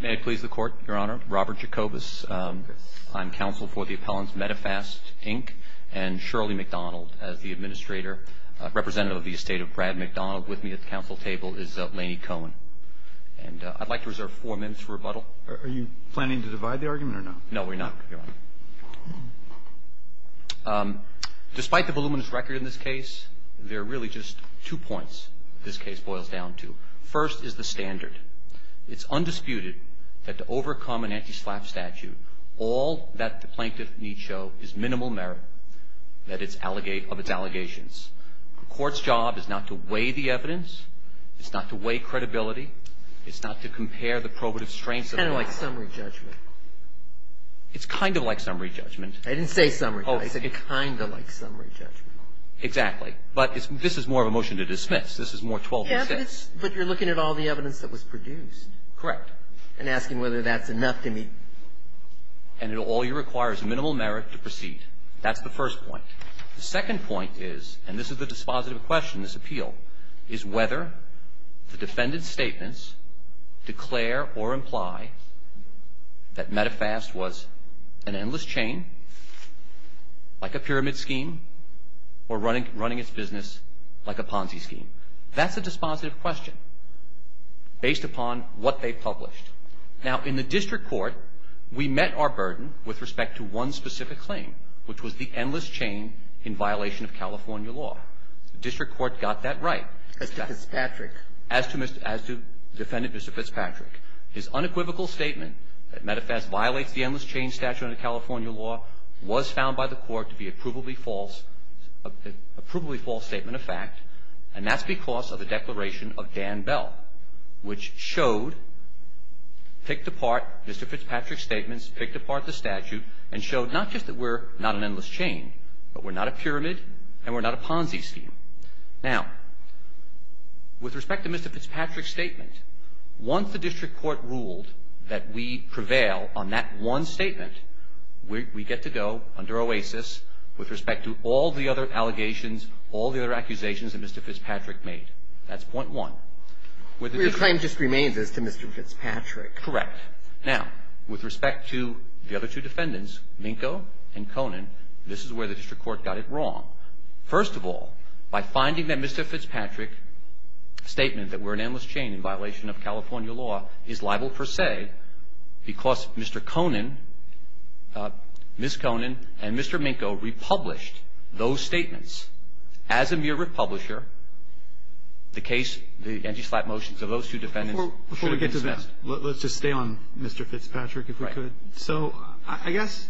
May it please the Court, Your Honor. Robert Jacobus. I'm counsel for the appellant Medifast, Inc. and Shirley MacDonald as the administrator. Representative of the estate of Brad MacDonald with me at the counsel table is Lanie Cohen. And I'd like to reserve four minutes for rebuttal. Are you planning to divide the argument or not? No, we're not, Your Honor. Despite the voluminous record in this case, there are really just two points this case boils down to. First is the standard. It's undisputed that to overcome an anti-SLAPP statute, all that the plaintiff needs show is minimal merit of its allegations. The court's job is not to weigh the evidence. It's not to weigh credibility. It's not to compare the probative strengths. It's kind of like summary judgment. It's kind of like summary judgment. I didn't say summary judgment. Oh, I said kind of like summary judgment. But you're looking at all the evidence that was produced. Correct. And asking whether that's enough to meet. And it all requires minimal merit to proceed. That's the first point. The second point is, and this is the dispositive question, this appeal, is whether the defendant's statements declare or imply that Medifast was an endless chain, like a pyramid scheme, or running its business like a Ponzi scheme. That's a dispositive question based upon what they published. Now, in the district court, we met our burden with respect to one specific claim, which was the endless chain in violation of California law. The district court got that right. As to Fitzpatrick. As to defendant Mr. Fitzpatrick. His unequivocal statement that Medifast violates the endless chain statute under California law was found by the court to be a provably false statement of fact. And that's because of the declaration of Dan Bell, which showed, picked apart Mr. Fitzpatrick's statements, picked apart the statute, and showed not just that we're not an endless chain, but we're not a pyramid and we're not a Ponzi scheme. Now, with respect to Mr. Fitzpatrick's statement, once the district court ruled that we prevail on that one statement, we get to go under OASIS with respect to all the other allegations, all the other accusations that Mr. Fitzpatrick made. That's point one. With the district court. But your claim just remains as to Mr. Fitzpatrick. Correct. Now, with respect to the other two defendants, Minko and Conan, this is where the district court got it wrong. First of all, by finding that Mr. Fitzpatrick's statement that we're an endless chain in violation of California law is liable per se because Mr. Conan, Ms. Conan and Mr. Minko republished those statements as a mere republisher, the case, the anti-slap motions of those two defendants should be dismissed. Before we get to that, let's just stay on Mr. Fitzpatrick if we could. Right. So I guess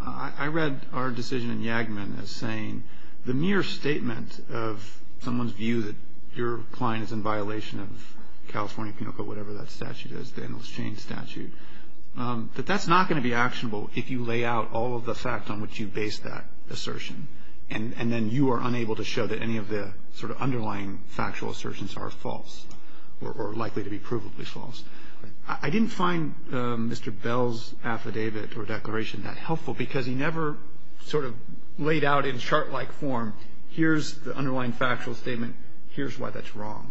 I read our decision in Yagman as saying the mere statement of someone's view that your client is in violation of California, whatever that statute is, the endless chain statute, that that's not going to be actionable if you lay out all of the facts on which you base that assertion. And then you are unable to show that any of the sort of underlying factual assertions are false or likely to be provably false. I didn't find Mr. Bell's affidavit or declaration that helpful because he never sort of laid out in chart-like form, here's the underlying factual statement, here's why that's wrong.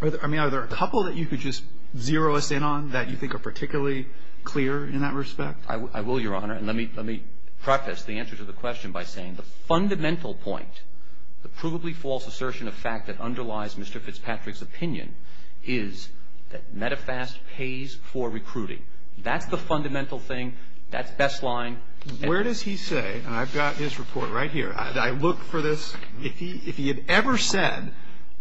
I mean, are there a couple that you could just zero us in on that you think are particularly clear in that respect? I will, Your Honor. And let me preface the answer to the question by saying the fundamental point, the provably false assertion of fact that underlies Mr. Fitzpatrick's opinion is that METAFAST pays for recruiting. That's the fundamental thing. That's best line. Where does he say, and I've got his report right here, I look for this. If he had ever said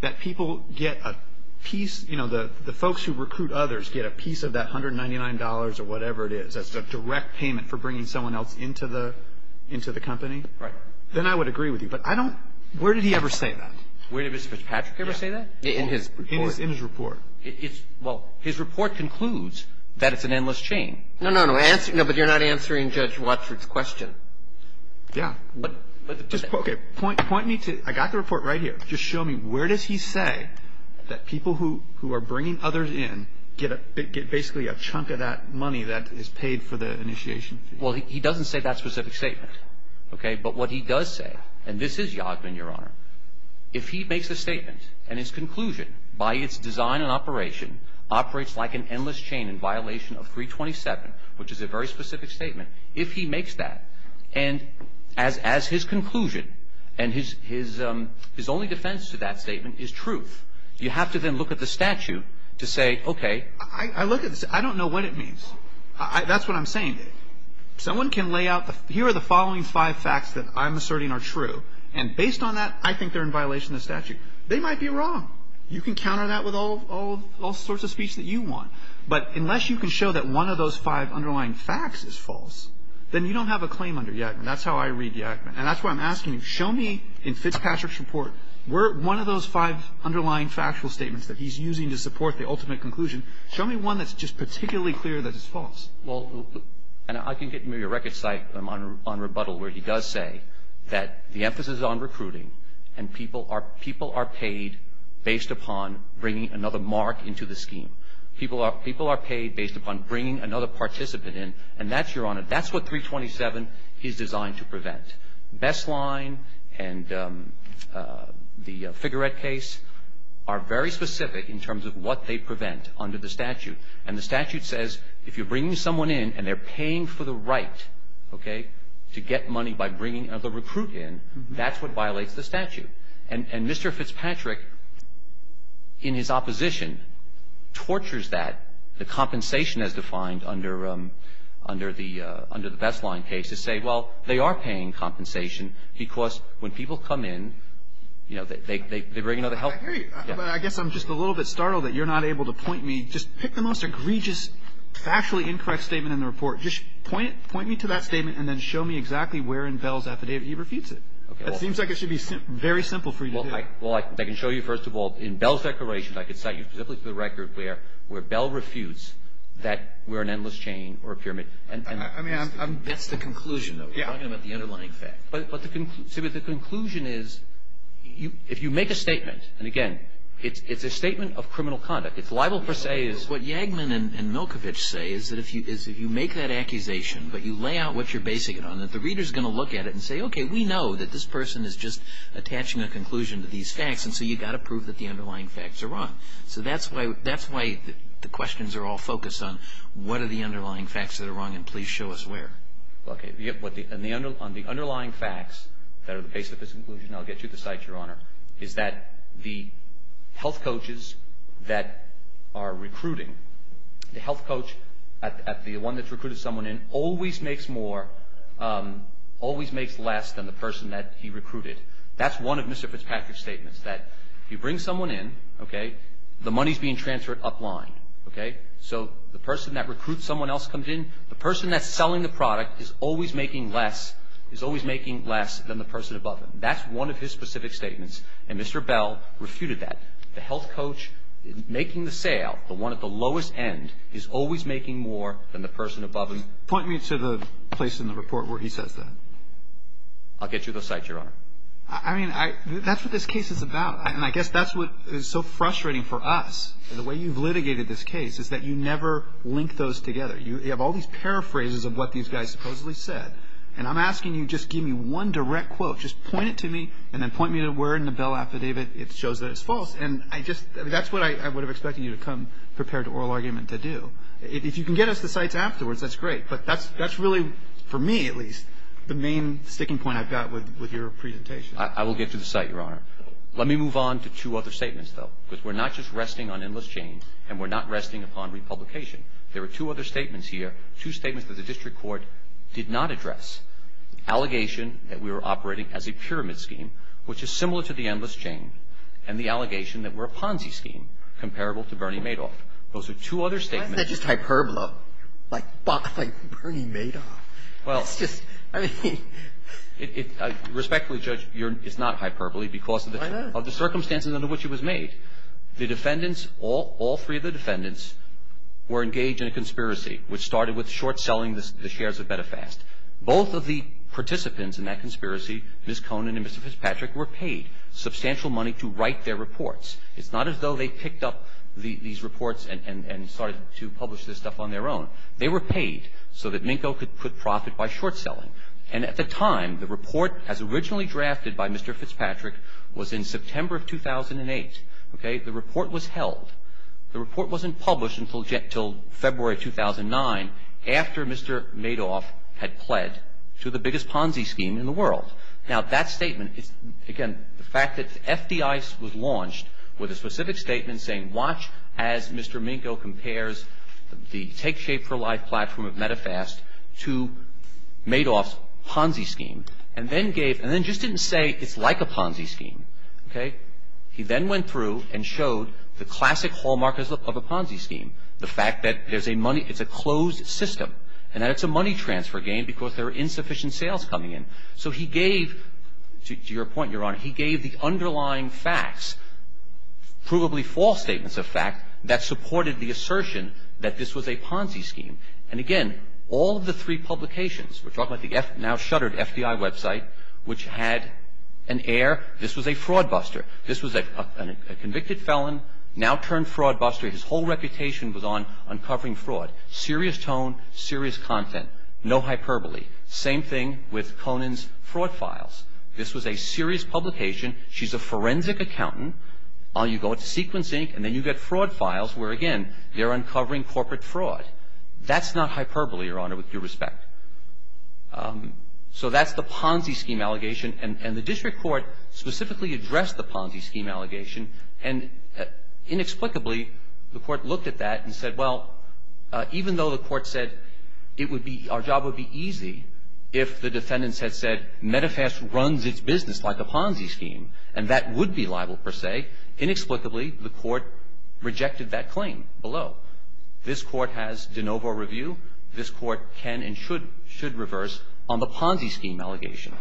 that people get a piece, you know, the folks who recruit others get a piece of that $199 or whatever it is, that's a direct payment for bringing someone else into the company. Right. Then I would agree with you. But I don't – where did he ever say that? Where did Mr. Fitzpatrick ever say that? In his report. In his report. Well, his report concludes that it's an endless chain. No, no, no. But you're not answering Judge Watford's question. Yeah. Okay. Point me to – I got the report right here. Just show me where does he say that people who are bringing others in get a – get basically a chunk of that money that is paid for the initiation fee? Well, he doesn't say that specific statement. Okay. But what he does say, and this is Yodman, Your Honor, if he makes a statement and his conclusion by its design and operation operates like an endless chain in violation of 327, which is a very specific statement, if he makes that, and as his conclusion and his only defense to that statement is truth, you have to then look at the statute to say, okay – I look at the – I don't know what it means. That's what I'm saying. Someone can lay out the – here are the following five facts that I'm asserting are true. And based on that, I think they're in violation of the statute. They might be wrong. You can counter that with all sorts of speech that you want. But unless you can show that one of those five underlying facts is false, then you don't have a claim under Yakman. That's how I read Yakman. And that's why I'm asking you, show me in Fitzpatrick's report one of those five underlying factual statements that he's using to support the ultimate conclusion. Show me one that's just particularly clear that it's false. Well, and I can give you a record cycle on rebuttal where he does say that the emphasis on recruiting and people are – people are paid based upon bringing another mark into the scheme. People are – people are paid based upon bringing another participant in. And that's – Your Honor, that's what 327 is designed to prevent. Best Line and the Figurette case are very specific in terms of what they prevent under the statute. And the statute says if you're bringing someone in and they're paying for the right, okay, to get money by bringing another recruit in, that's what violates the statute. And Mr. Fitzpatrick, in his opposition, tortures that. The compensation as defined under the – under the Best Line case to say, well, they are paying compensation because when people come in, you know, they bring another help. I hear you. But I guess I'm just a little bit startled that you're not able to point me – just pick the most egregious, factually incorrect statement in the report. Just point it – point me to that statement and then show me exactly where in Bell's affidavit he refutes it. Okay. It seems like it should be very simple for you to do. Well, I can show you, first of all, in Bell's declaration, I could cite you specifically to the record where – where Bell refutes that we're an endless chain or a pyramid. I mean, I'm – That's the conclusion, though. Yeah. We're talking about the underlying fact. But the – so the conclusion is, if you make a statement, and again, it's a statement of criminal conduct. It's libel per se. It's what Yagman and Milkovich say, is that if you – is if you make that accusation but you lay out what you're basing it on, that the reader's going to look at it and say, okay, we know that this person is just attaching a conclusion to these facts, and so you've got to prove that the underlying facts are wrong. So that's why – that's why the questions are all focused on what are the underlying facts that are wrong and please show us where. Okay. On the underlying facts that are the base of this conclusion, I'll get you to cite, Your Honor, is that the health coaches that are recruiting, the health coach at the one that's recruited someone in always makes more – always makes less than the person that he recruited. That's one of Mr. Fitzpatrick's statements, that you bring someone in, okay, the money's being transferred upline, okay? So the person that recruits someone else comes in. The person that's selling the product is always making less – is always making less than the person above him. That's one of his specific statements, and Mr. Bell refuted that. The health coach making the sale, the one at the lowest end, is always making more than the person above him. Point me to the place in the report where he says that. I'll get you those cites, Your Honor. I mean, that's what this case is about, and I guess that's what is so frustrating for us. The way you've litigated this case is that you never link those together. You have all these paraphrases of what these guys supposedly said, and I'm asking you just give me one direct quote. Just point it to me and then point me to where in the Bell affidavit it shows that it's false, and I just – that's what I would have expected you to come prepared to oral argument to do. If you can get us the cites afterwards, that's great, but that's really, for me at least, the main sticking point I've got with your presentation. I will get to the cite, Your Honor. Let me move on to two other statements, though, because we're not just resting on endless chains and we're not resting upon republication. There are two other statements here, two statements that the district court did not address, allegation that we were operating as a pyramid scheme, which is similar to the endless chain, and the allegation that we're a Ponzi scheme, comparable to Bernie Madoff. Those are two other statements. Why is that just hyperbole? It's not hyperbole because of the circumstances under which it was made. The defendants, all three of the defendants, were engaged in a conspiracy, which started with short-selling the shares of Betafast. Both of the participants in that conspiracy, Ms. Conen and Mr. Fitzpatrick, were paid substantial money to write their reports. It's not as though they picked up these reports and started to publish this stuff on their own. They were paid so that Minkow could put profit by short-selling. And at the time, the report, as originally drafted by Mr. Fitzpatrick, was in September of 2008. Okay? The report was held. The report wasn't published until February 2009, after Mr. Madoff had pled to the biggest Ponzi scheme in the world. Now, that statement is, again, the fact that FDIC was launched with a specific statement saying, watch as Mr. Minkow compares the Take Shape for Life platform of Betafast to Madoff's Ponzi scheme, and then gave – and then just didn't say it's like a Ponzi scheme. Okay? He then went through and showed the classic hallmark of a Ponzi scheme, the fact that there's a money – it's a closed system, and that it's a money transfer game because there are insufficient sales coming in. So he gave – to your point, Your Honor – he gave the underlying facts, provably false statements of fact, that supported the assertion that this was a Ponzi scheme. And again, all of the three publications – we're talking about the now shuttered FDI website, which had an air, this was a fraud buster. This was a convicted felon, now turned fraud buster. His whole reputation was on uncovering fraud. Serious tone, serious content. No hyperbole. Same thing with Conan's fraud files. This was a serious publication. She's a forensic accountant. You go to Sequence Inc., and then you get fraud files where, again, they're uncovering corporate fraud. That's not hyperbole, Your Honor, with due respect. So that's the Ponzi scheme allegation. And the district court specifically addressed the Ponzi scheme allegation. And inexplicably, the court looked at that and said, well, even though the court said it would be – our job would be easy if the defendants had said, Medifast runs its business like a Ponzi scheme. And that would be liable, per se. Inexplicably, the court rejected that claim below. This Court has de novo review. This Court can and should reverse on the Ponzi scheme allegation.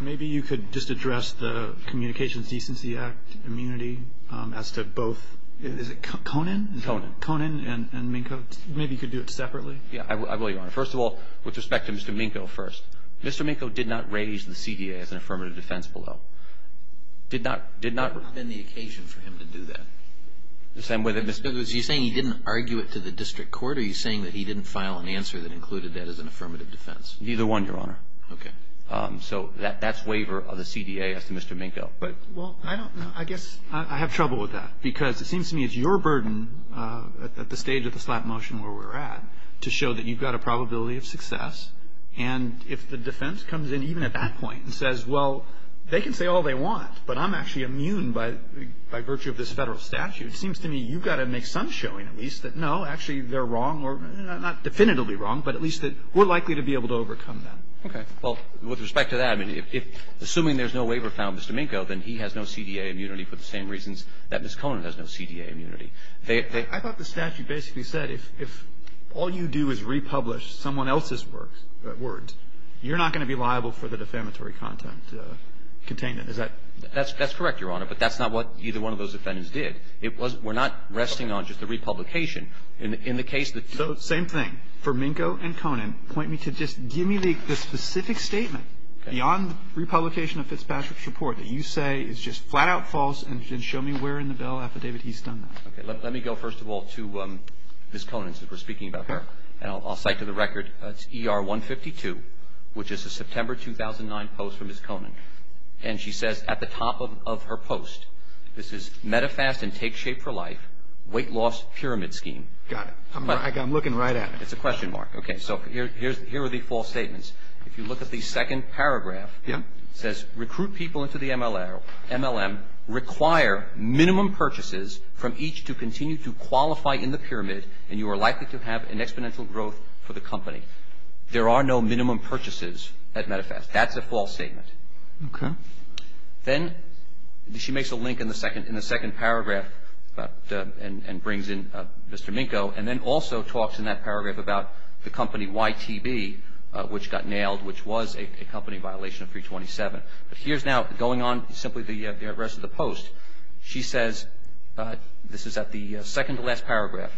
Maybe you could just address the Communications Decency Act immunity as to both – is it Conan? Conan. Conan and Minkow. Maybe you could do it separately. Yeah, I will, Your Honor. First of all, with respect to Mr. Minkow first. Mr. Minkow did not raise the CDA as an affirmative defense below. Did not – did not – It's not been the occasion for him to do that. The same way that – Are you saying he didn't argue it to the district court, or are you saying that he didn't file an answer that included that as an affirmative defense? Neither one, Your Honor. Okay. So that's waiver of the CDA as to Mr. Minkow. But – well, I don't know. I guess I have trouble with that because it seems to me it's your burden at the stage of the slap motion where we're at to show that you've got a probability of success. And if the defense comes in even at that point and says, well, they can say all they want, but I'm actually immune by virtue of this Federal statute, it seems to me you've got to make some showing at least that, no, actually they're wrong or – not definitively wrong, but at least that we're likely to be able to overcome them. Okay. Well, with respect to that, I mean, if – assuming there's no waiver found in Mr. Minkow, then he has no CDA immunity for the same reasons that Ms. Conan has no CDA immunity. They – they – I thought the statute basically said if all you do is republish someone else's words, you're not going to be liable for the defamatory content – containment. Is that – That's correct, Your Honor. But that's not what either one of those defendants did. It was – we're not resting on just the republication. In the case that – So same thing for Minkow and Conan. Point me to just – give me the specific statement beyond the republication of Fitzpatrick's report that you say is just flat-out false and then show me where in the bail affidavit he's done that. Okay. Let me go, first of all, to Ms. Conan's if we're speaking about her. And I'll cite to the record. It's ER 152, which is a September 2009 post from Ms. Conan. And she says at the top of her post, this is, MetaFast and Take Shape for Life Weight Loss Pyramid Scheme. Got it. I'm looking right at it. It's a question mark. Okay. So here are the false statements. If you look at the second paragraph, it says, There are no minimum purchases at MetaFast. That's a false statement. Okay. Then she makes a link in the second paragraph and brings in Mr. Minkow and then also talks in that paragraph about the company YTB, which got nailed, But she says, Here's now going on simply the rest of the post. She says, this is at the second to last paragraph,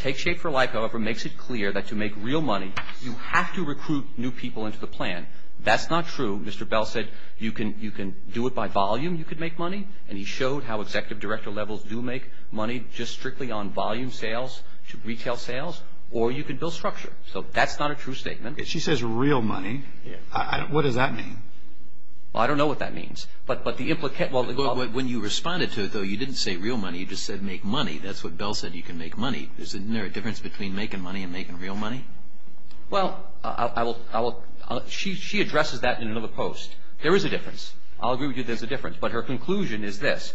Take Shape for Life, however, makes it clear that to make real money, you have to recruit new people into the plan. That's not true. Mr. Bell said you can do it by volume. You can make money. And he showed how executive director levels do make money just strictly on volume sales, retail sales, or you can build structure. So that's not a true statement. She says real money. What does that mean? Well, I don't know what that means. But the implication, well, When you responded to it, though, you didn't say real money. You just said make money. That's what Bell said. You can make money. Isn't there a difference between making money and making real money? Well, she addresses that in another post. There is a difference. I'll agree with you there's a difference. But her conclusion is this.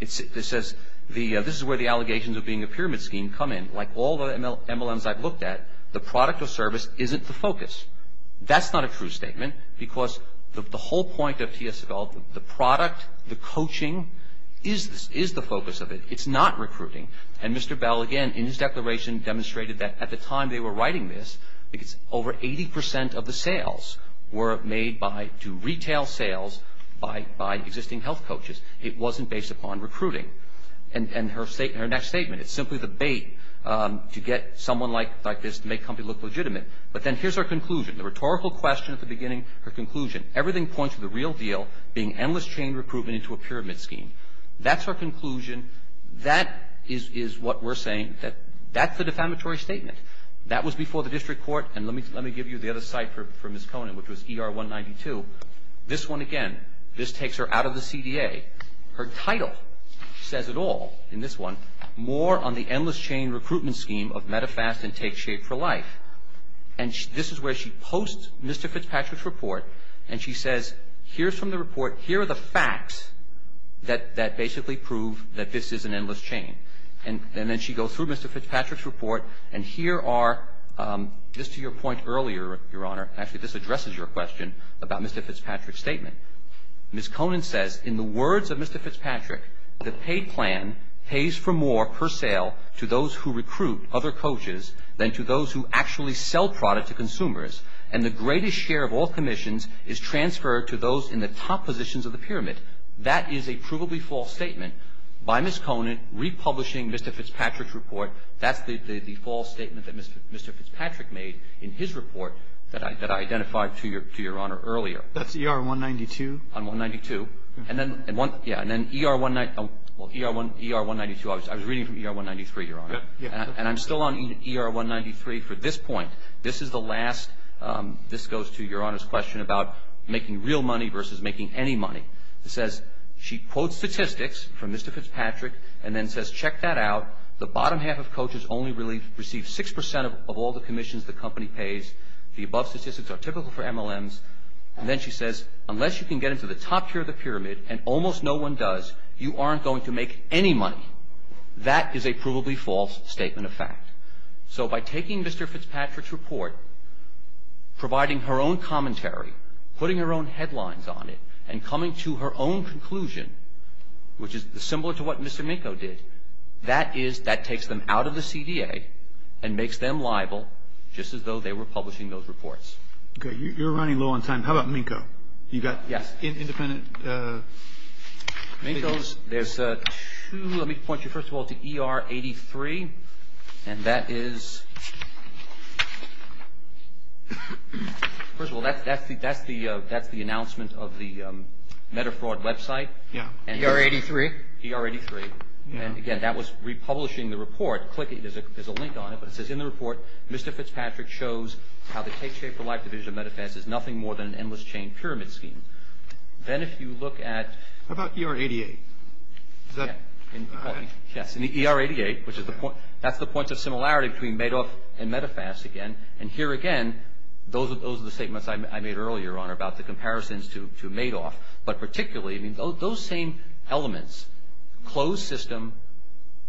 It says, this is where the allegations of being a pyramid scheme come in. Like all the MLMs I've looked at, the product or service isn't the focus. That's not a true statement because the whole point of TSFL, the product, the coaching, is the focus of it. It's not recruiting. And Mr. Bell, again, in his declaration demonstrated that at the time they were writing this, over 80% of the sales were made to retail sales by existing health coaches. It wasn't based upon recruiting. And her next statement, it's simply the bait to get someone like this to make a company look legitimate. But then here's her conclusion, the rhetorical question at the beginning, her conclusion. Everything points to the real deal being endless chain recruitment into a pyramid scheme. That's her conclusion. That is what we're saying. That's the defamatory statement. That was before the district court. And let me give you the other site for Ms. Conant, which was ER 192. This one, again, this takes her out of the CDA. Her title says it all in this one. More on the endless chain recruitment scheme of Medifast and Take Shape for Life. And this is where she posts Mr. Fitzpatrick's report, and she says, here's from the report, here are the facts that basically prove that this is an endless chain. And then she goes through Mr. Fitzpatrick's report, and here are, just to your point earlier, Your Honor, actually this addresses your question about Mr. Fitzpatrick's statement. Ms. Conant says, in the words of Mr. Fitzpatrick, the paid plan pays for more per sale to those who recruit other coaches than to those who actually sell product to consumers. And the greatest share of all commissions is transferred to those in the top positions of the pyramid. That is a provably false statement by Ms. Conant republishing Mr. Fitzpatrick's report. That's the false statement that Mr. Fitzpatrick made in his report that I identified to Your Honor earlier. That's ER 192? On 192. And then ER 192, I was reading from ER 193, Your Honor. And I'm still on ER 193 for this point. This is the last, this goes to Your Honor's question about making real money versus making any money. It says, she quotes statistics from Mr. Fitzpatrick and then says, check that out. The bottom half of coaches only receive 6% of all the commissions the company pays. The above statistics are typical for MLMs. And then she says, unless you can get into the top tier of the pyramid, and almost no one does, you aren't going to make any money. That is a provably false statement of fact. So by taking Mr. Fitzpatrick's report, providing her own commentary, putting her own headlines on it, and coming to her own conclusion, which is similar to what Mr. Minkow did, that is, that takes them out of the CDA and makes them liable just as though they were publishing those reports. Okay. You're running low on time. How about Minkow? You've got independent committees. There's two, let me point you first of all to ER83. And that is, first of all, that's the announcement of the Metafraud website. Yeah. ER83? ER83. And again, that was republishing the report. Click it, there's a link on it, but it says, in the report, Mr. Fitzpatrick shows how the Take Care for Life division of MetaFast is nothing more than an endless chain pyramid scheme. Then if you look at How about ER88? Yes, ER88, that's the point of similarity between Madoff and MetaFast again. And here again, those are the statements I made earlier, Your Honor, about the comparisons to Madoff. But particularly, I mean, those same elements, closed system,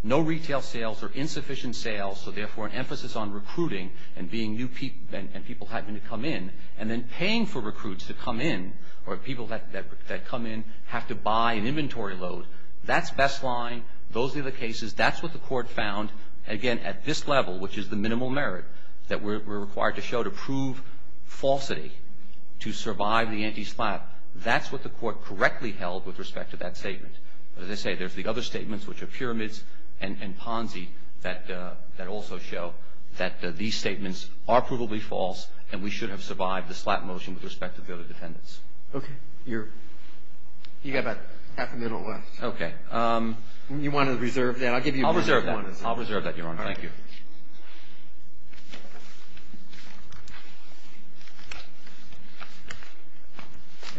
no retail sales or insufficient sales, so therefore an emphasis on recruiting and people having to come in, and then paying for recruits to come in or people that come in have to buy an inventory load. That's best line. Those are the cases. That's what the court found, again, at this level, which is the minimal merit that we're required to show to prove falsity, to survive the anti-slap. That's what the court correctly held with respect to that statement. As I say, there's the other statements, which are pyramids and Ponzi that also show that these statements are provably false and we should have survived the slap motion with respect to voter defendants. Okay. You got about half a minute left. Okay. You want to reserve that? I'll reserve that. I'll reserve that, Your Honor. Thank you.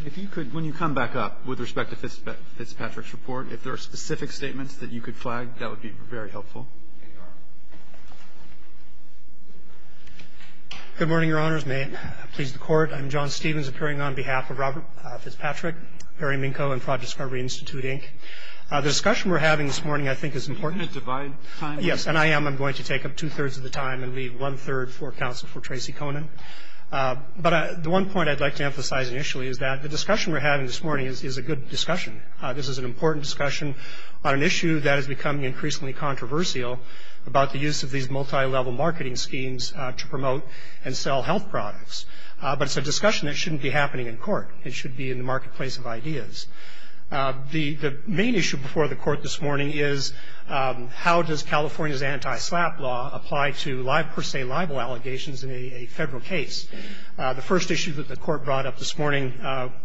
If you could, when you come back up, with respect to Fitzpatrick's report, if there are specific statements that you could flag, that would be very helpful. Good morning, Your Honors. May it please the Court. I'm John Stevens, appearing on behalf of Robert Fitzpatrick, Perry Minkow, and Fraud Discovery Institute, Inc. The discussion we're having this morning, I think, is important. Can you divide time? Yes, and I am. I'm going to take up two-thirds of the time and leave one-third for counsel for Tracey Conan. But the one point I'd like to emphasize initially is that the discussion we're having this morning is a good discussion. This is an important discussion on an issue that is becoming increasingly controversial, about the use of these multilevel marketing schemes to promote and sell health products. But it's a discussion that shouldn't be happening in court. It should be in the marketplace of ideas. The main issue before the Court this morning is, how does California's anti-SLAPP law apply to per se libel allegations in a federal case? The first issue that the Court brought up this morning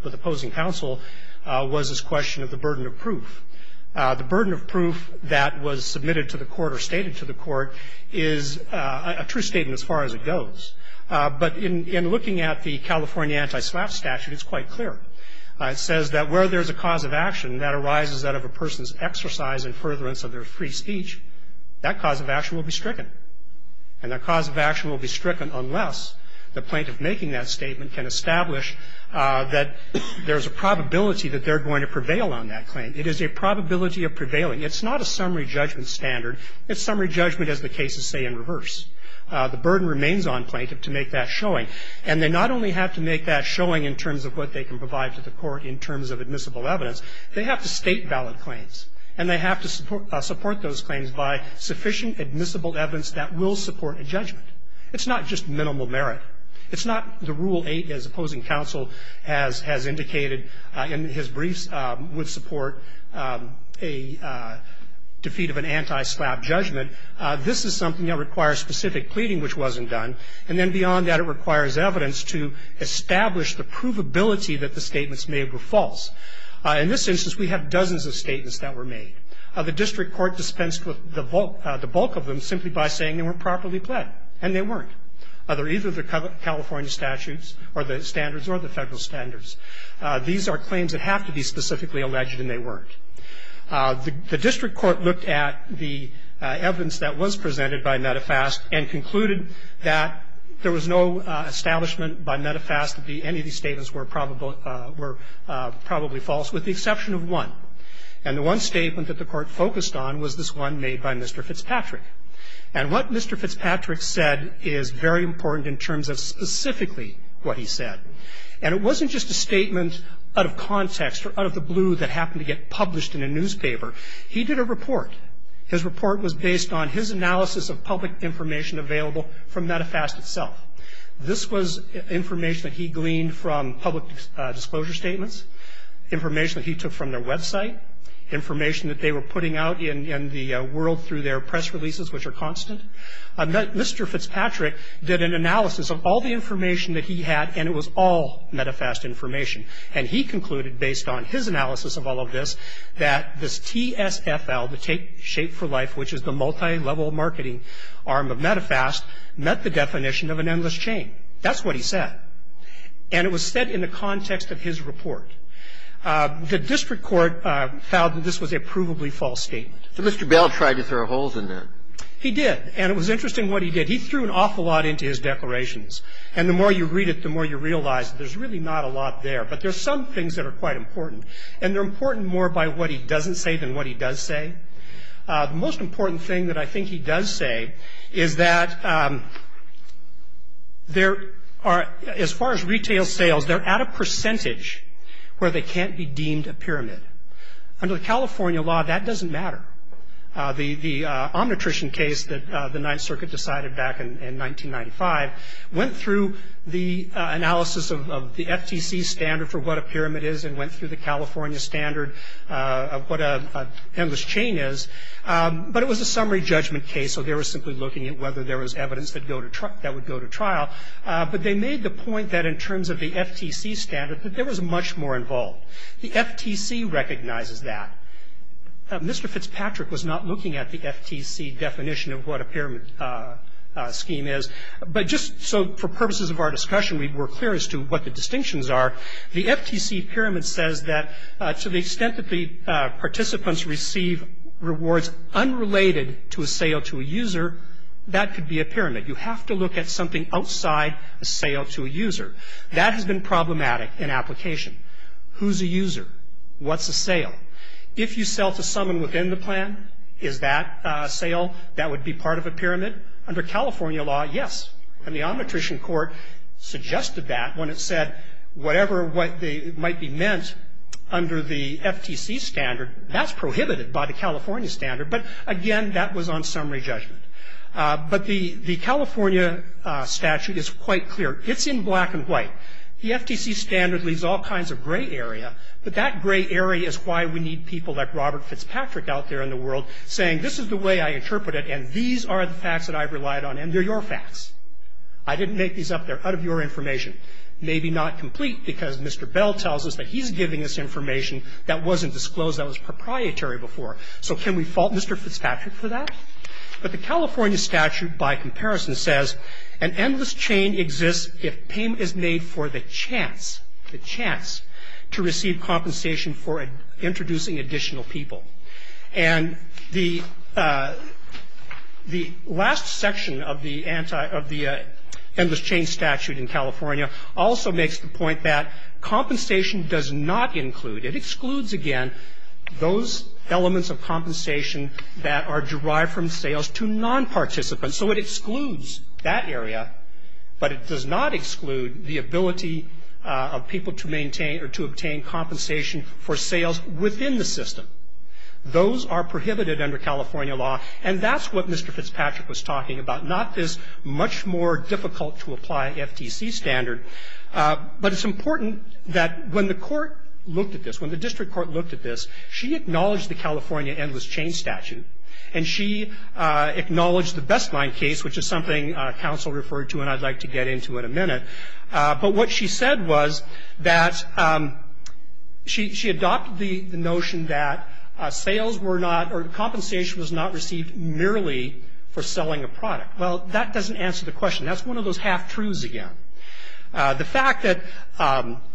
with opposing counsel was this question of the burden of proof. The burden of proof that was submitted to the Court or stated to the Court is a true statement as far as it goes. But in looking at the California anti-SLAPP statute, it's quite clear. It says that where there is a cause of action that arises out of a person's exercise and furtherance of their free speech, that cause of action will be stricken. And the cause of action will be stricken unless the plaintiff making that statement can establish that there's a probability that they're going to prevail on that claim. It is a probability of prevailing. It's not a summary judgment standard. It's summary judgment, as the cases say, in reverse. The burden remains on plaintiff to make that showing. And they not only have to make that showing in terms of what they can provide to the Court in terms of admissible evidence, they have to state valid claims. And they have to support those claims by sufficient admissible evidence that will support a judgment. It's not just minimal merit. It's not the Rule 8, as opposing counsel has indicated in his briefs, would support a defeat of an anti-SLAPP judgment. This is something that requires specific pleading, which wasn't done. And then beyond that, it requires evidence to establish the provability that the statements made were false. In this instance, we have dozens of statements that were made. The district court dispensed with the bulk of them simply by saying they weren't properly pled, and they weren't. They're either the California statutes or the standards or the Federal standards. These are claims that have to be specifically alleged, and they weren't. The district court looked at the evidence that was presented by METAFAST and concluded that there was no establishment by METAFAST that any of these statements were probable false, with the exception of one. And the one statement that the court focused on was this one made by Mr. Fitzpatrick. And what Mr. Fitzpatrick said is very important in terms of specifically what he said. And it wasn't just a statement out of context or out of the blue that happened to get published in a newspaper. He did a report. His report was based on his analysis of public information available from METAFAST itself. This was information that he gleaned from public disclosure statements. Information that he took from their website. Information that they were putting out in the world through their press releases, which are constant. Mr. Fitzpatrick did an analysis of all the information that he had, and it was all METAFAST information. And he concluded, based on his analysis of all of this, that this TSFL, the Take Shape for Life, which is the multi-level marketing arm of METAFAST, met the definition of an endless chain. That's what he said. And it was said in the context of his report. The district court found that this was a provably false statement. So Mr. Bell tried to throw holes in that. He did. And it was interesting what he did. He threw an awful lot into his declarations. And the more you read it, the more you realize that there's really not a lot there. But there's some things that are quite important. And they're important more by what he doesn't say than what he does say. The most important thing that I think he does say is that there are, as far as retail sales, they're at a percentage where they can't be deemed a pyramid. Under the California law, that doesn't matter. The Omnitrition case that the Ninth Circuit decided back in 1995 went through the analysis of the FTC standard for what a pyramid is and went through the California standard of what an endless chain is. But it was a summary judgment case, so they were simply looking at whether there was evidence that would go to trial. But they made the point that in terms of the FTC standard that there was much more involved. The FTC recognizes that. Mr. Fitzpatrick was not looking at the FTC definition of what a pyramid scheme is. But just so for purposes of our discussion we're clear as to what the distinctions are, the FTC pyramid says that to the extent that the participants receive rewards unrelated to a sale to a user, that could be a pyramid. You have to look at something outside a sale to a user. That has been problematic in application. Who's a user? What's a sale? If you sell to someone within the plan, is that a sale that would be part of a pyramid? Under California law, yes. And the Omnitrician Court suggested that when it said whatever might be meant under the FTC standard, that's prohibited by the California standard. But, again, that was on summary judgment. But the California statute is quite clear. It's in black and white. The FTC standard leaves all kinds of gray area, but that gray area is why we need people like Robert Fitzpatrick out there in the world saying, this is the way I interpret it, and these are the facts that I've relied on, and they're your facts. I didn't make these up. They're out of your information. Maybe not complete, because Mr. Bell tells us that he's giving us information that wasn't disclosed, that was proprietary before. So can we fault Mr. Fitzpatrick for that? But the California statute, by comparison, says an endless chain exists if payment is made for the chance, the chance, to receive compensation for introducing additional people. And the last section of the anti of the endless chain statute in California also makes the point that compensation does not include, it excludes, again, those elements of compensation that are derived from sales to non-participants. So it excludes that area, but it does not exclude the ability of people to maintain or to obtain compensation for sales within the system. Those are prohibited under California law. And that's what Mr. Fitzpatrick was talking about, not this much more difficult to apply FTC standard. But it's important that when the court looked at this, when the district court looked at this, she acknowledged the California endless chain statute, and she acknowledged the Best Line case, which is something counsel referred to and I'd like to get into in a minute. But what she said was that she adopted the notion that sales were not or compensation was not received merely for selling a product. Well, that doesn't answer the question. That's one of those half-truths again. The fact that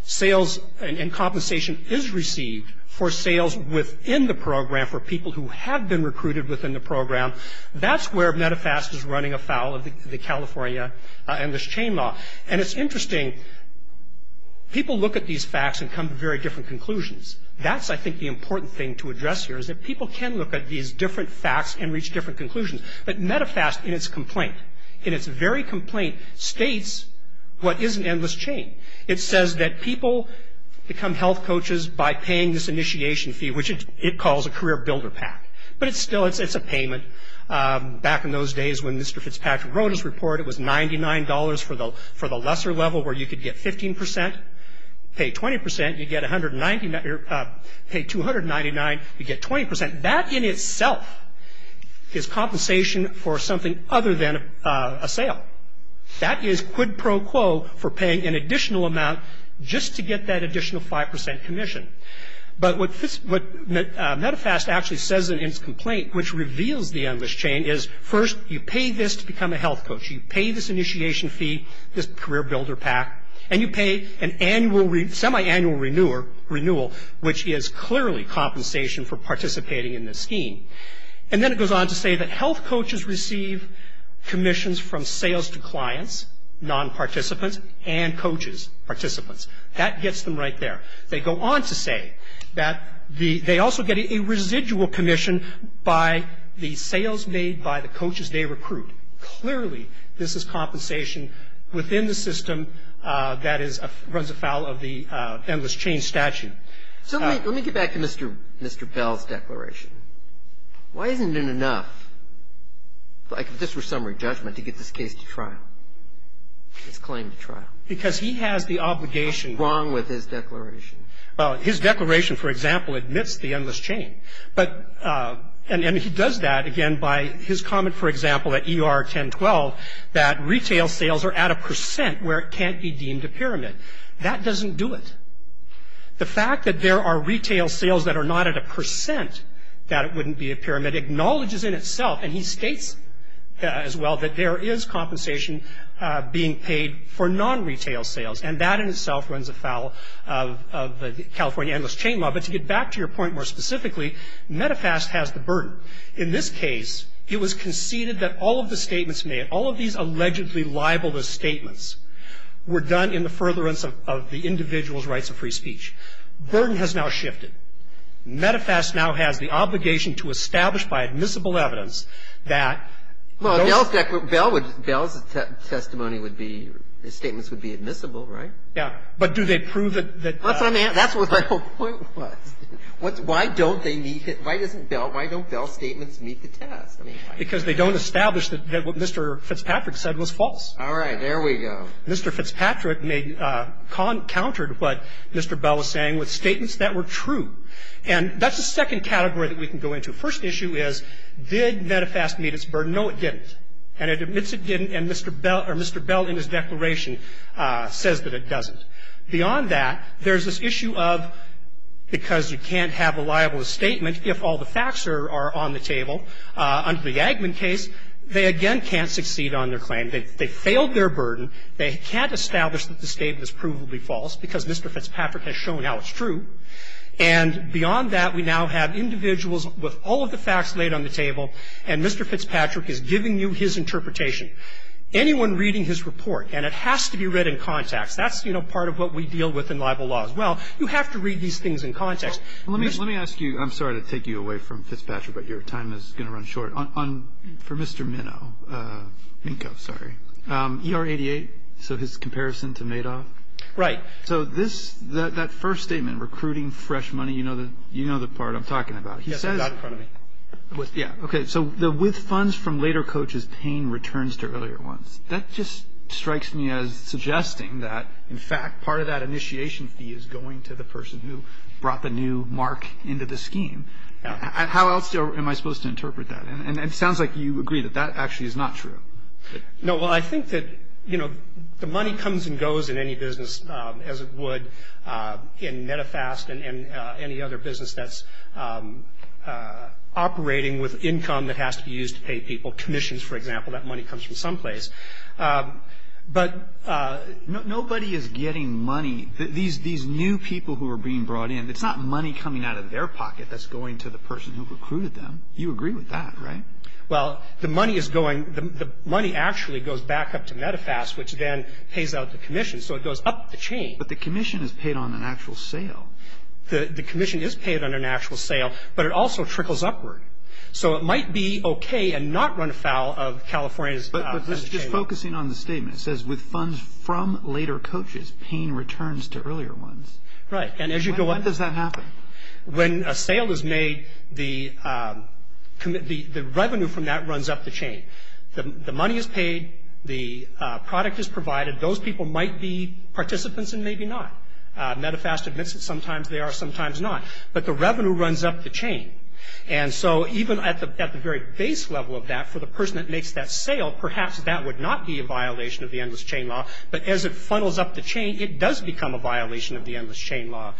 sales and compensation is received for sales within the program for people who have been recruited within the program, that's where Medifast is running afoul of the California endless chain law. And it's interesting, people look at these facts and come to very different conclusions. That's, I think, the important thing to address here, is that people can look at these different facts and reach different conclusions. But Medifast, in its complaint, in its very complaint, states what is an endless chain. It says that people become health coaches by paying this initiation fee, which it calls a career builder pack. But it's still, it's a payment. Back in those days when Mr. Fitzpatrick wrote his report, it was $99 for the lesser level where you could get 15 percent, pay 20 percent, you get 190, pay 299, you get 20 percent. That in itself is compensation for something other than a sale. That is quid pro quo for paying an additional amount just to get that additional 5 percent commission. But what Medifast actually says in its complaint, which reveals the endless chain, is first you pay this to become a health coach. You pay this initiation fee, this career builder pack, and you pay a semi-annual renewal, which is clearly compensation for participating in this scheme. And then it goes on to say that health coaches receive commissions from sales to clients, non-participants, and coaches, participants. That gets them right there. They go on to say that the, they also get a residual commission by the sales made by the coaches they recruit. Clearly, this is compensation within the system that is, runs afoul of the endless chain statute. So let me get back to Mr. Bell's declaration. Why isn't it enough, like if this were summary judgment, to get this case to trial, this claim to trial? Because he has the obligation. Wrong with his declaration. Well, his declaration, for example, admits the endless chain. But, and he does that, again, by his comment, for example, at ER 1012, that retail sales are at a percent where it can't be deemed a pyramid. That doesn't do it. The fact that there are retail sales that are not at a percent, that it wouldn't be a pyramid, acknowledges in itself, and he states as well, that there is compensation being paid for non-retail sales. And that in itself runs afoul of the California endless chain law. But to get back to your point more specifically, Medifast has the burden. In this case, it was conceded that all of the statements made, all of these allegedly libelous statements, were done in the furtherance of the individual's rights of free speech. Burden has now shifted. Medifast now has the obligation to establish by admissible evidence that those statements were true. And Medifast admits it didn't. And Medifast's testimony would be, the statements would be admissible, right? Yeah. But do they prove that the ---- That's what I'm asking. That's what my whole point was. Why don't they meet it? Why doesn't Bell, why don't Bell's statements meet the test? Because they don't establish that what Mr. Fitzpatrick said was false. All right. There we go. Mr. Fitzpatrick may have countered what Mr. Bell was saying with statements that were true. And that's the second category that we can go into. First issue is, did Medifast meet its burden? No, it didn't. And it admits it didn't, and Mr. Bell or Mr. Bell in his declaration says that it doesn't. Beyond that, there's this issue of, because you can't have a libelous statement if all the facts are on the table, under the Agman case, they again can't succeed on their claim. They failed their burden. They can't establish that the statement is provably false because Mr. Fitzpatrick has shown how it's true. And beyond that, we now have individuals with all of the facts laid on the table, and Mr. Fitzpatrick is giving you his interpretation. Anyone reading his report, and it has to be read in context, that's, you know, part of what we deal with in libel law as well, you have to read these things in context. Let me ask you ---- I'm sorry to take you away from Fitzpatrick, but your time is going to run short. For Mr. Minow, Minkoff, sorry, ER-88, so his comparison to Madoff. Right. So this, that first statement, recruiting fresh money, you know the part I'm talking about. Yes, I've got it in front of me. Yeah. Okay. So with funds from later coaches paying returns to earlier ones. That just strikes me as suggesting that, in fact, part of that initiation fee is going to the person who brought the new mark into the scheme. How else am I supposed to interpret that? And it sounds like you agree that that actually is not true. No. Well, I think that, you know, the money comes and goes in any business as it would in Medifast and any other business that's operating with income that has to be used to pay people commissions, for example. That money comes from someplace. But nobody is getting money. These new people who are being brought in, it's not money coming out of their pocket that's going to the person who recruited them. You agree with that, right? Well, the money is going, the money actually goes back up to Medifast, which then pays out the commission. So it goes up the chain. But the commission is paid on an actual sale. The commission is paid on an actual sale, but it also trickles upward. So it might be okay and not run afoul of California's. But this is just focusing on the statement. It says with funds from later coaches paying returns to earlier ones. Right. And as you go up. When does that happen? When a sale is made, the revenue from that runs up the chain. The money is paid. The product is provided. Those people might be participants and maybe not. Medifast admits that sometimes they are, sometimes not. But the revenue runs up the chain. And so even at the very base level of that, for the person that makes that sale, perhaps that would not be a violation of the Endless Chain Law. But as it funnels up the chain, it does become a violation of the Endless Chain Law.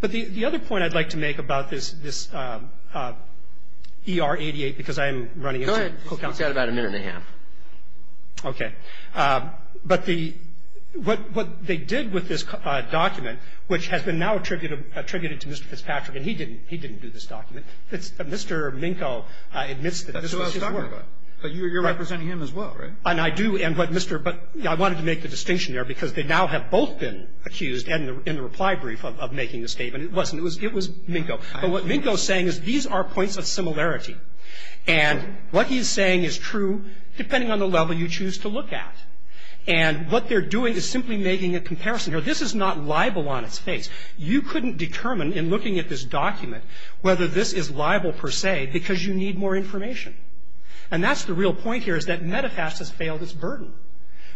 But the other point I'd like to make about this ER-88, because I'm running into it. Go ahead. We've got about a minute and a half. Okay. But the what they did with this document, which has been now attributed to Mr. Fitzpatrick, and he didn't do this document. Mr. Minkow admits that this is his work. That's who I was talking about. But you're representing him as well, right? And I do. And what Mr. But I wanted to make the distinction there because they now have both been accused in the reply brief of making a statement. It wasn't. It was Minkow. But what Minkow is saying is these are points of similarity. And what he's saying is true depending on the level you choose to look at. And what they're doing is simply making a comparison. This is not libel on its face. You couldn't determine in looking at this document whether this is libel per se because you need more information. And that's the real point here is that Medifast has failed its burden.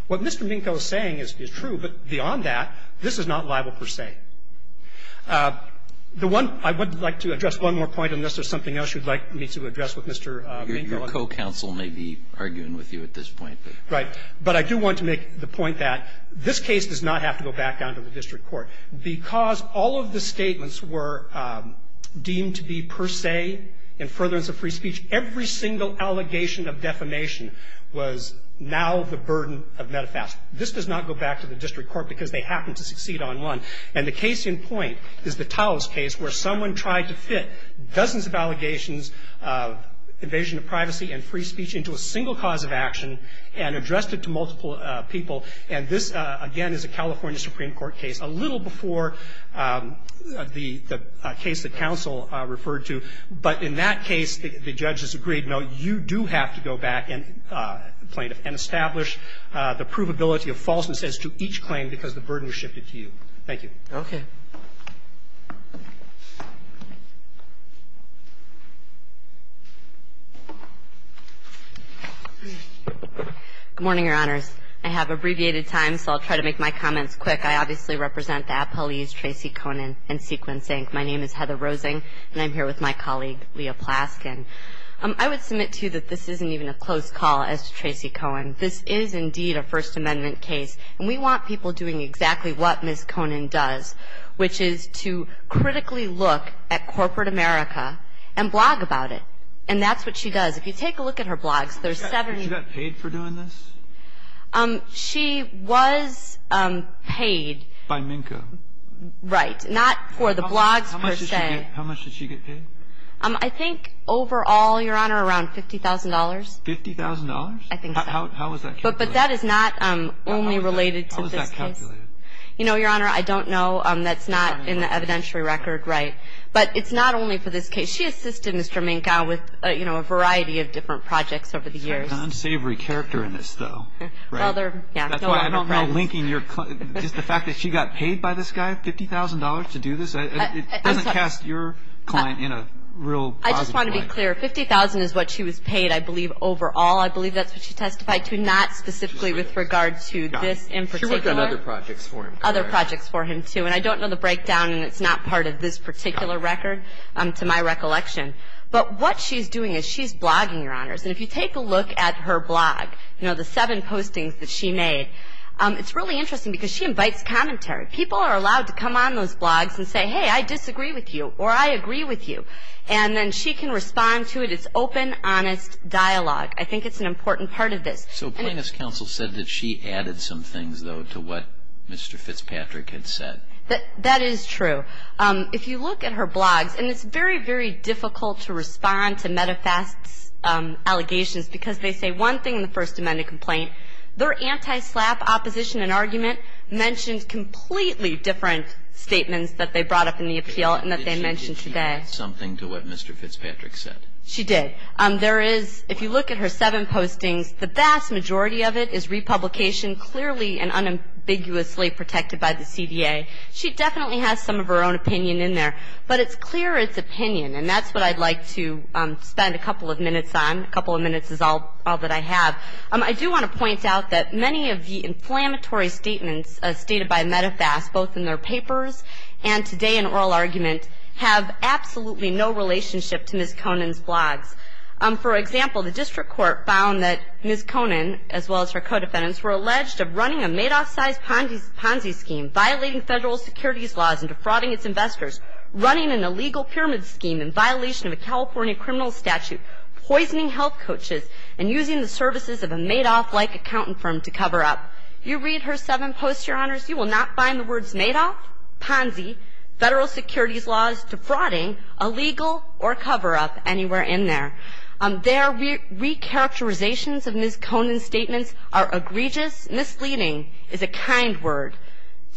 What Mr. Minkow is saying is true, but beyond that, this is not libel per se. The one – I would like to address one more point on this. There's something else you'd like me to address with Mr. Minkow. Your co-counsel may be arguing with you at this point. Right. But I do want to make the point that this case does not have to go back down to the district court. Because all of the statements were deemed to be per se in furtherance of free speech, every single allegation of defamation was now the burden of Medifast. This does not go back to the district court because they happened to succeed on one. And the case in point is the Towles case where someone tried to fit dozens of allegations of invasion of privacy and free speech into a single cause of action and addressed it to multiple people. And this, again, is a California Supreme Court case, a little before the case that counsel referred to. But in that case, the judges agreed, no, you do have to go back, plaintiff, and establish the provability of falseness as to each claim because the burden was shifted to you. Thank you. Okay. Good morning, Your Honors. I have abbreviated time, so I'll try to make my comments quick. I obviously represent the appellees Tracy Conin and Sequin Zink. My name is Heather Roseng, and I'm here with my colleague, Leah Plaskin. I would submit, too, that this isn't even a close call as to Tracy Conin. This is indeed a First Amendment case, and we want people doing exactly what Ms. Conin does, which is to critically look at corporate America and blog about it. And that's what she does. If you take a look at her blogs, there are 70 of them. Was she paid for doing this? She was paid. By MNCO. Right. Not for the blogs, per se. How much did she get paid? I think overall, Your Honor, around $50,000. $50,000? I think so. How is that calculated? But that is not only related to this case. How is that calculated? You know, Your Honor, I don't know. That's not in the evidentiary record. Right. But it's not only for this case. She assisted Mr. MNCO with, you know, a variety of different projects over the years. There's an unsavory character in this, though. Right? Well, there, yeah. Just the fact that she got paid by this guy $50,000 to do this, it doesn't cast your client in a real positive light. I just want to be clear. $50,000 is what she was paid, I believe, overall. I believe that's what she testified to, not specifically with regard to this in particular. She worked on other projects for him. Other projects for him, too. And I don't know the breakdown, and it's not part of this particular record, to my recollection. But what she's doing is she's blogging, Your Honors. And if you take a look at her blog, you know, the seven postings that she made, it's really interesting because she invites commentary. People are allowed to come on those blogs and say, hey, I disagree with you, or I agree with you. And then she can respond to it. It's open, honest dialogue. I think it's an important part of this. So Plaintiff's Counsel said that she added some things, though, to what Mr. Fitzpatrick had said. That is true. If you look at her blogs, and it's very, very difficult to respond to Medifast's allegations because they say one thing in the First Amendment complaint. Their anti-SLAPP opposition and argument mentioned completely different statements that they brought up in the appeal and that they mentioned today. Did she add something to what Mr. Fitzpatrick said? She did. There is, if you look at her seven postings, the vast majority of it is republication, clearly and unambiguously protected by the CDA. She definitely has some of her own opinion in there, but it's clear it's opinion, and that's what I'd like to spend a couple of minutes on. A couple of minutes is all that I have. I do want to point out that many of the inflammatory statements stated by Medifast, both in their papers and today in oral argument, have absolutely no relationship to Ms. Conin's blogs. For example, the district court found that Ms. Conin, as well as her co-defendants, were alleged of running a Madoff-sized Ponzi scheme, violating Federal securities laws and defrauding its investors, running an illegal pyramid scheme in violation of a California criminal statute, poisoning health coaches, and using the services of a Madoff-like accountant firm to cover up. You read her seven posts, Your Honors, you will not find the words Madoff, Ponzi, Federal securities laws, defrauding, illegal, or cover-up anywhere in there. Their re-characterizations of Ms. Conin's statements are egregious, misleading, is a kind word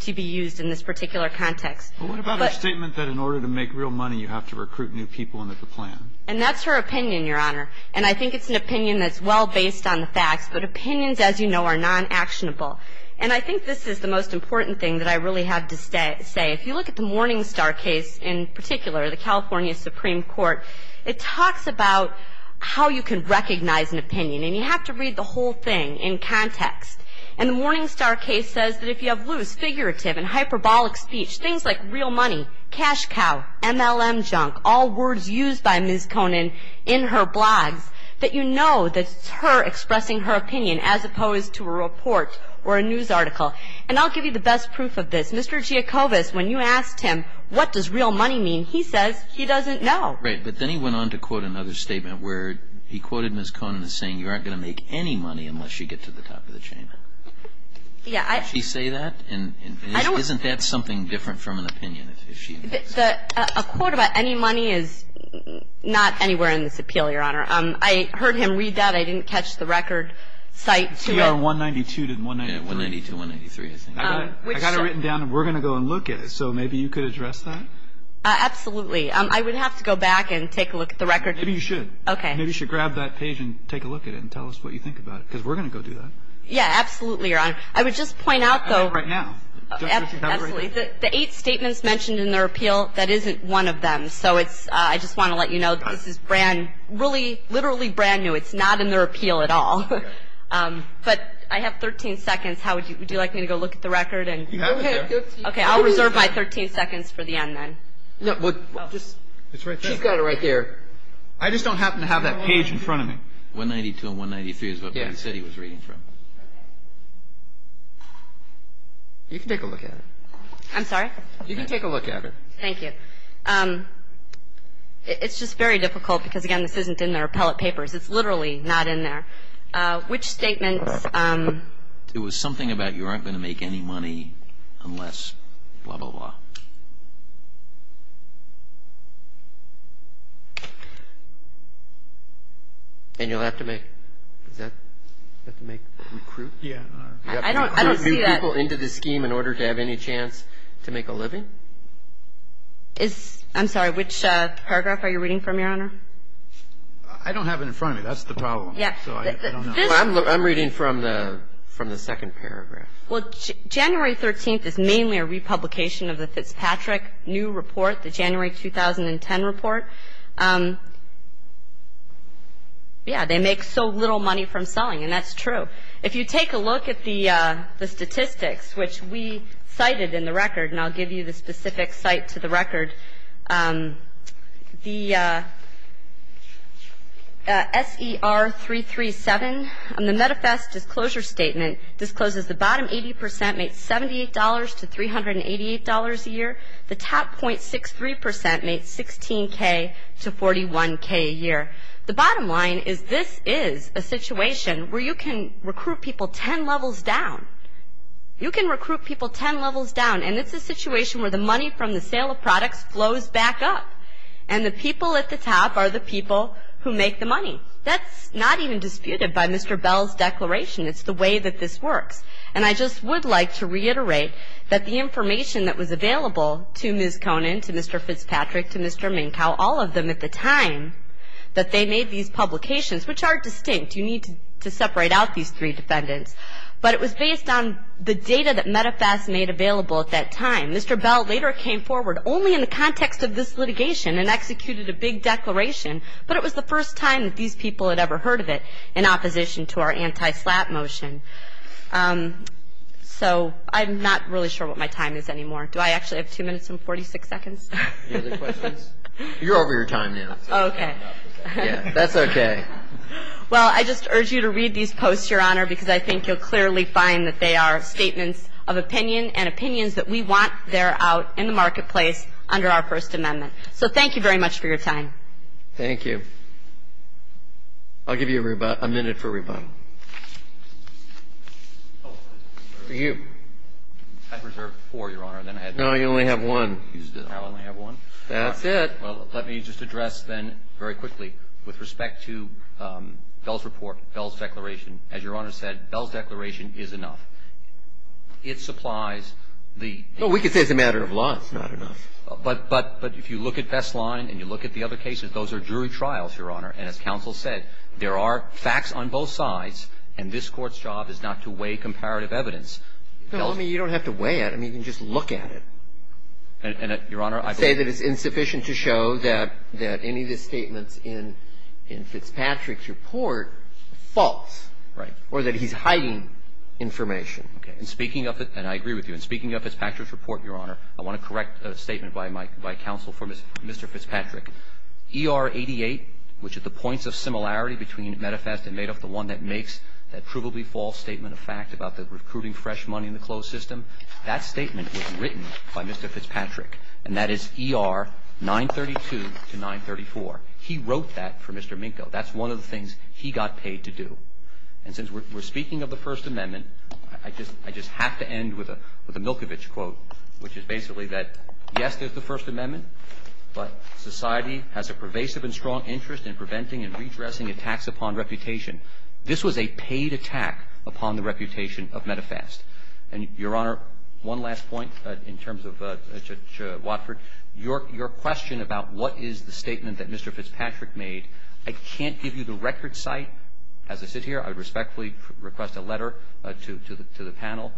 to be used in this particular context. But what about her statement that in order to make real money, you have to recruit new people into the plan? And that's her opinion, Your Honor, and I think it's an opinion that's well-based on the facts, but opinions, as you know, are non-actionable. And I think this is the most important thing that I really have to say. If you look at the Morningstar case in particular, the California Supreme Court, it talks about how you can recognize an opinion, and you have to read the whole thing in context. And the Morningstar case says that if you have loose, figurative, and hyperbolic speech, things like real money, cash cow, MLM junk, all words used by Ms. Conin in her blogs, that you know that it's her expressing her opinion as opposed to a report or a news article. And I'll give you the best proof of this. Mr. Giacobas, when you asked him what does real money mean, he says he doesn't know. Right. But then he went on to quote another statement where he quoted Ms. Conin as saying you aren't going to make any money unless you get to the top of the chain. Yeah. Does she say that? And isn't that something different from an opinion, if she thinks? A quote about any money is not anywhere in this appeal, Your Honor. I heard him read that. I didn't catch the record. C.R. 192 to 193. Yeah, 192, 193, I think. I got it written down, and we're going to go and look at it. So maybe you could address that? Absolutely. I would have to go back and take a look at the record. Maybe you should. Okay. Maybe you should grab that page and take a look at it and tell us what you think about it, because we're going to go do that. Yeah, absolutely, Your Honor. I would just point out, though. Right now. Absolutely. The eight statements mentioned in their appeal, that isn't one of them. So I just want to let you know this is brand new, literally brand new. It's not in their appeal at all. But I have 13 seconds. Would you like me to go look at the record? You have it there. Okay. I'll reserve my 13 seconds for the end then. It's right there. She's got it right there. I just don't happen to have that page in front of me. 192 and 193 is what the city was reading from. Okay. You can take a look at it. I'm sorry? You can take a look at it. Thank you. It's just very difficult, because, again, this isn't in their appellate papers. It's literally not in there. Which statement? It was something about you aren't going to make any money unless blah, blah, blah. And you'll have to make recruit? Yeah. I don't see that. You have to recruit people into the scheme in order to have any chance to make a living? I'm sorry. Which paragraph are you reading from, Your Honor? I don't have it in front of me. That's the problem. Yeah. I'm reading from the second paragraph. Well, January 13th is mainly a republication of the thing. The Fitzpatrick New Report, the January 2010 report. Yeah. They make so little money from selling, and that's true. If you take a look at the statistics, which we cited in the record, and I'll give you the specific cite to the record, the SER337, and the Metafast Disclosure Statement discloses the bottom 80% makes $78 to $388 a year. The top .63% makes $16,000 to $41,000 a year. The bottom line is this is a situation where you can recruit people 10 levels down. You can recruit people 10 levels down, and it's a situation where the money from the sale of products flows back up, and the people at the top are the people who make the money. That's not even disputed by Mr. Bell's declaration. It's the way that this works. And I just would like to reiterate that the information that was available to Ms. Conin, to Mr. Fitzpatrick, to Mr. Minkow, all of them at the time that they made these publications, which are distinct, you need to separate out these three defendants, but it was based on the data that Metafast made available at that time. Mr. Bell later came forward only in the context of this litigation and executed a big declaration, but it was the first time that these people had ever heard of it in opposition to our anti-SLAPP motion. So I'm not really sure what my time is anymore. Do I actually have two minutes and 46 seconds? Any other questions? You're over your time now. Oh, okay. Yeah, that's okay. Well, I just urge you to read these posts, Your Honor, because I think you'll clearly find that they are statements of opinion and opinions that we want there out in the marketplace under our First Amendment. So thank you very much for your time. Thank you. I'll give you a minute for rebuttal. For you. I reserved four, Your Honor. No, you only have one. I only have one? That's it. Well, let me just address then very quickly with respect to Bell's report, Bell's declaration. As Your Honor said, Bell's declaration is enough. It supplies the ---- No, we can say it's a matter of law. It's not enough. But if you look at Best Line and you look at the other cases, those are jury trials, Your Honor. And as counsel said, there are facts on both sides, and this Court's job is not to weigh comparative evidence. No, I mean, you don't have to weigh it. I mean, you can just look at it. And, Your Honor, I believe ---- And say that it's insufficient to show that any of the statements in Fitzpatrick's report are false. Right. Or that he's hiding information. Okay. And speaking of the ---- and I agree with you. And speaking of Fitzpatrick's report, Your Honor, I want to correct a statement by counsel for Mr. Fitzpatrick. ER 88, which at the points of similarity between Metafast and Madoff, the one that makes that provably false statement of fact about the recruiting fresh money in the closed system, that statement was written by Mr. Fitzpatrick, and that is ER 932 to 934. He wrote that for Mr. Minkow. That's one of the things he got paid to do. And since we're speaking of the First Amendment, I just have to end with a Milkovich quote, which is basically that, yes, there's the First Amendment, but society has a pervasive and strong interest in preventing and redressing attacks upon reputation. This was a paid attack upon the reputation of Metafast. And, Your Honor, one last point in terms of Judge Watford. Your question about what is the statement that Mr. Fitzpatrick made, I can't give you the record site as I sit here. I respectfully request a letter to the panel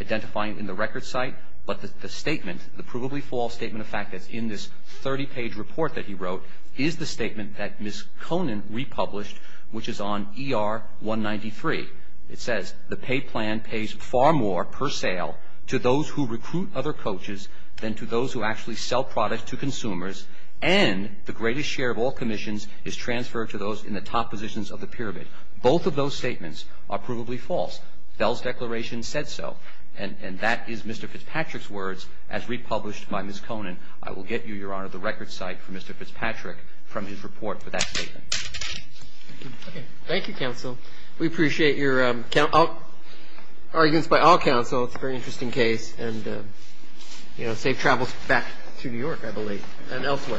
identifying in the record site. But the statement, the provably false statement of fact that's in this 30-page report that he wrote, is the statement that Ms. Conant republished, which is on ER 193. It says, The pay plan pays far more per sale to those who recruit other coaches than to those who actually sell products to consumers, and the greatest share of all commissions is transferred to those in the top positions of the pyramid. Both of those statements are provably false. Bell's declaration said so. And that is Mr. Fitzpatrick's words as republished by Ms. Conant. I will get you, Your Honor, the record site for Mr. Fitzpatrick from his report for that statement. Okay. Thank you, counsel. We appreciate your arguments by all counsel. It's a very interesting case. And, you know, safe travels back to New York, I believe. And elsewhere.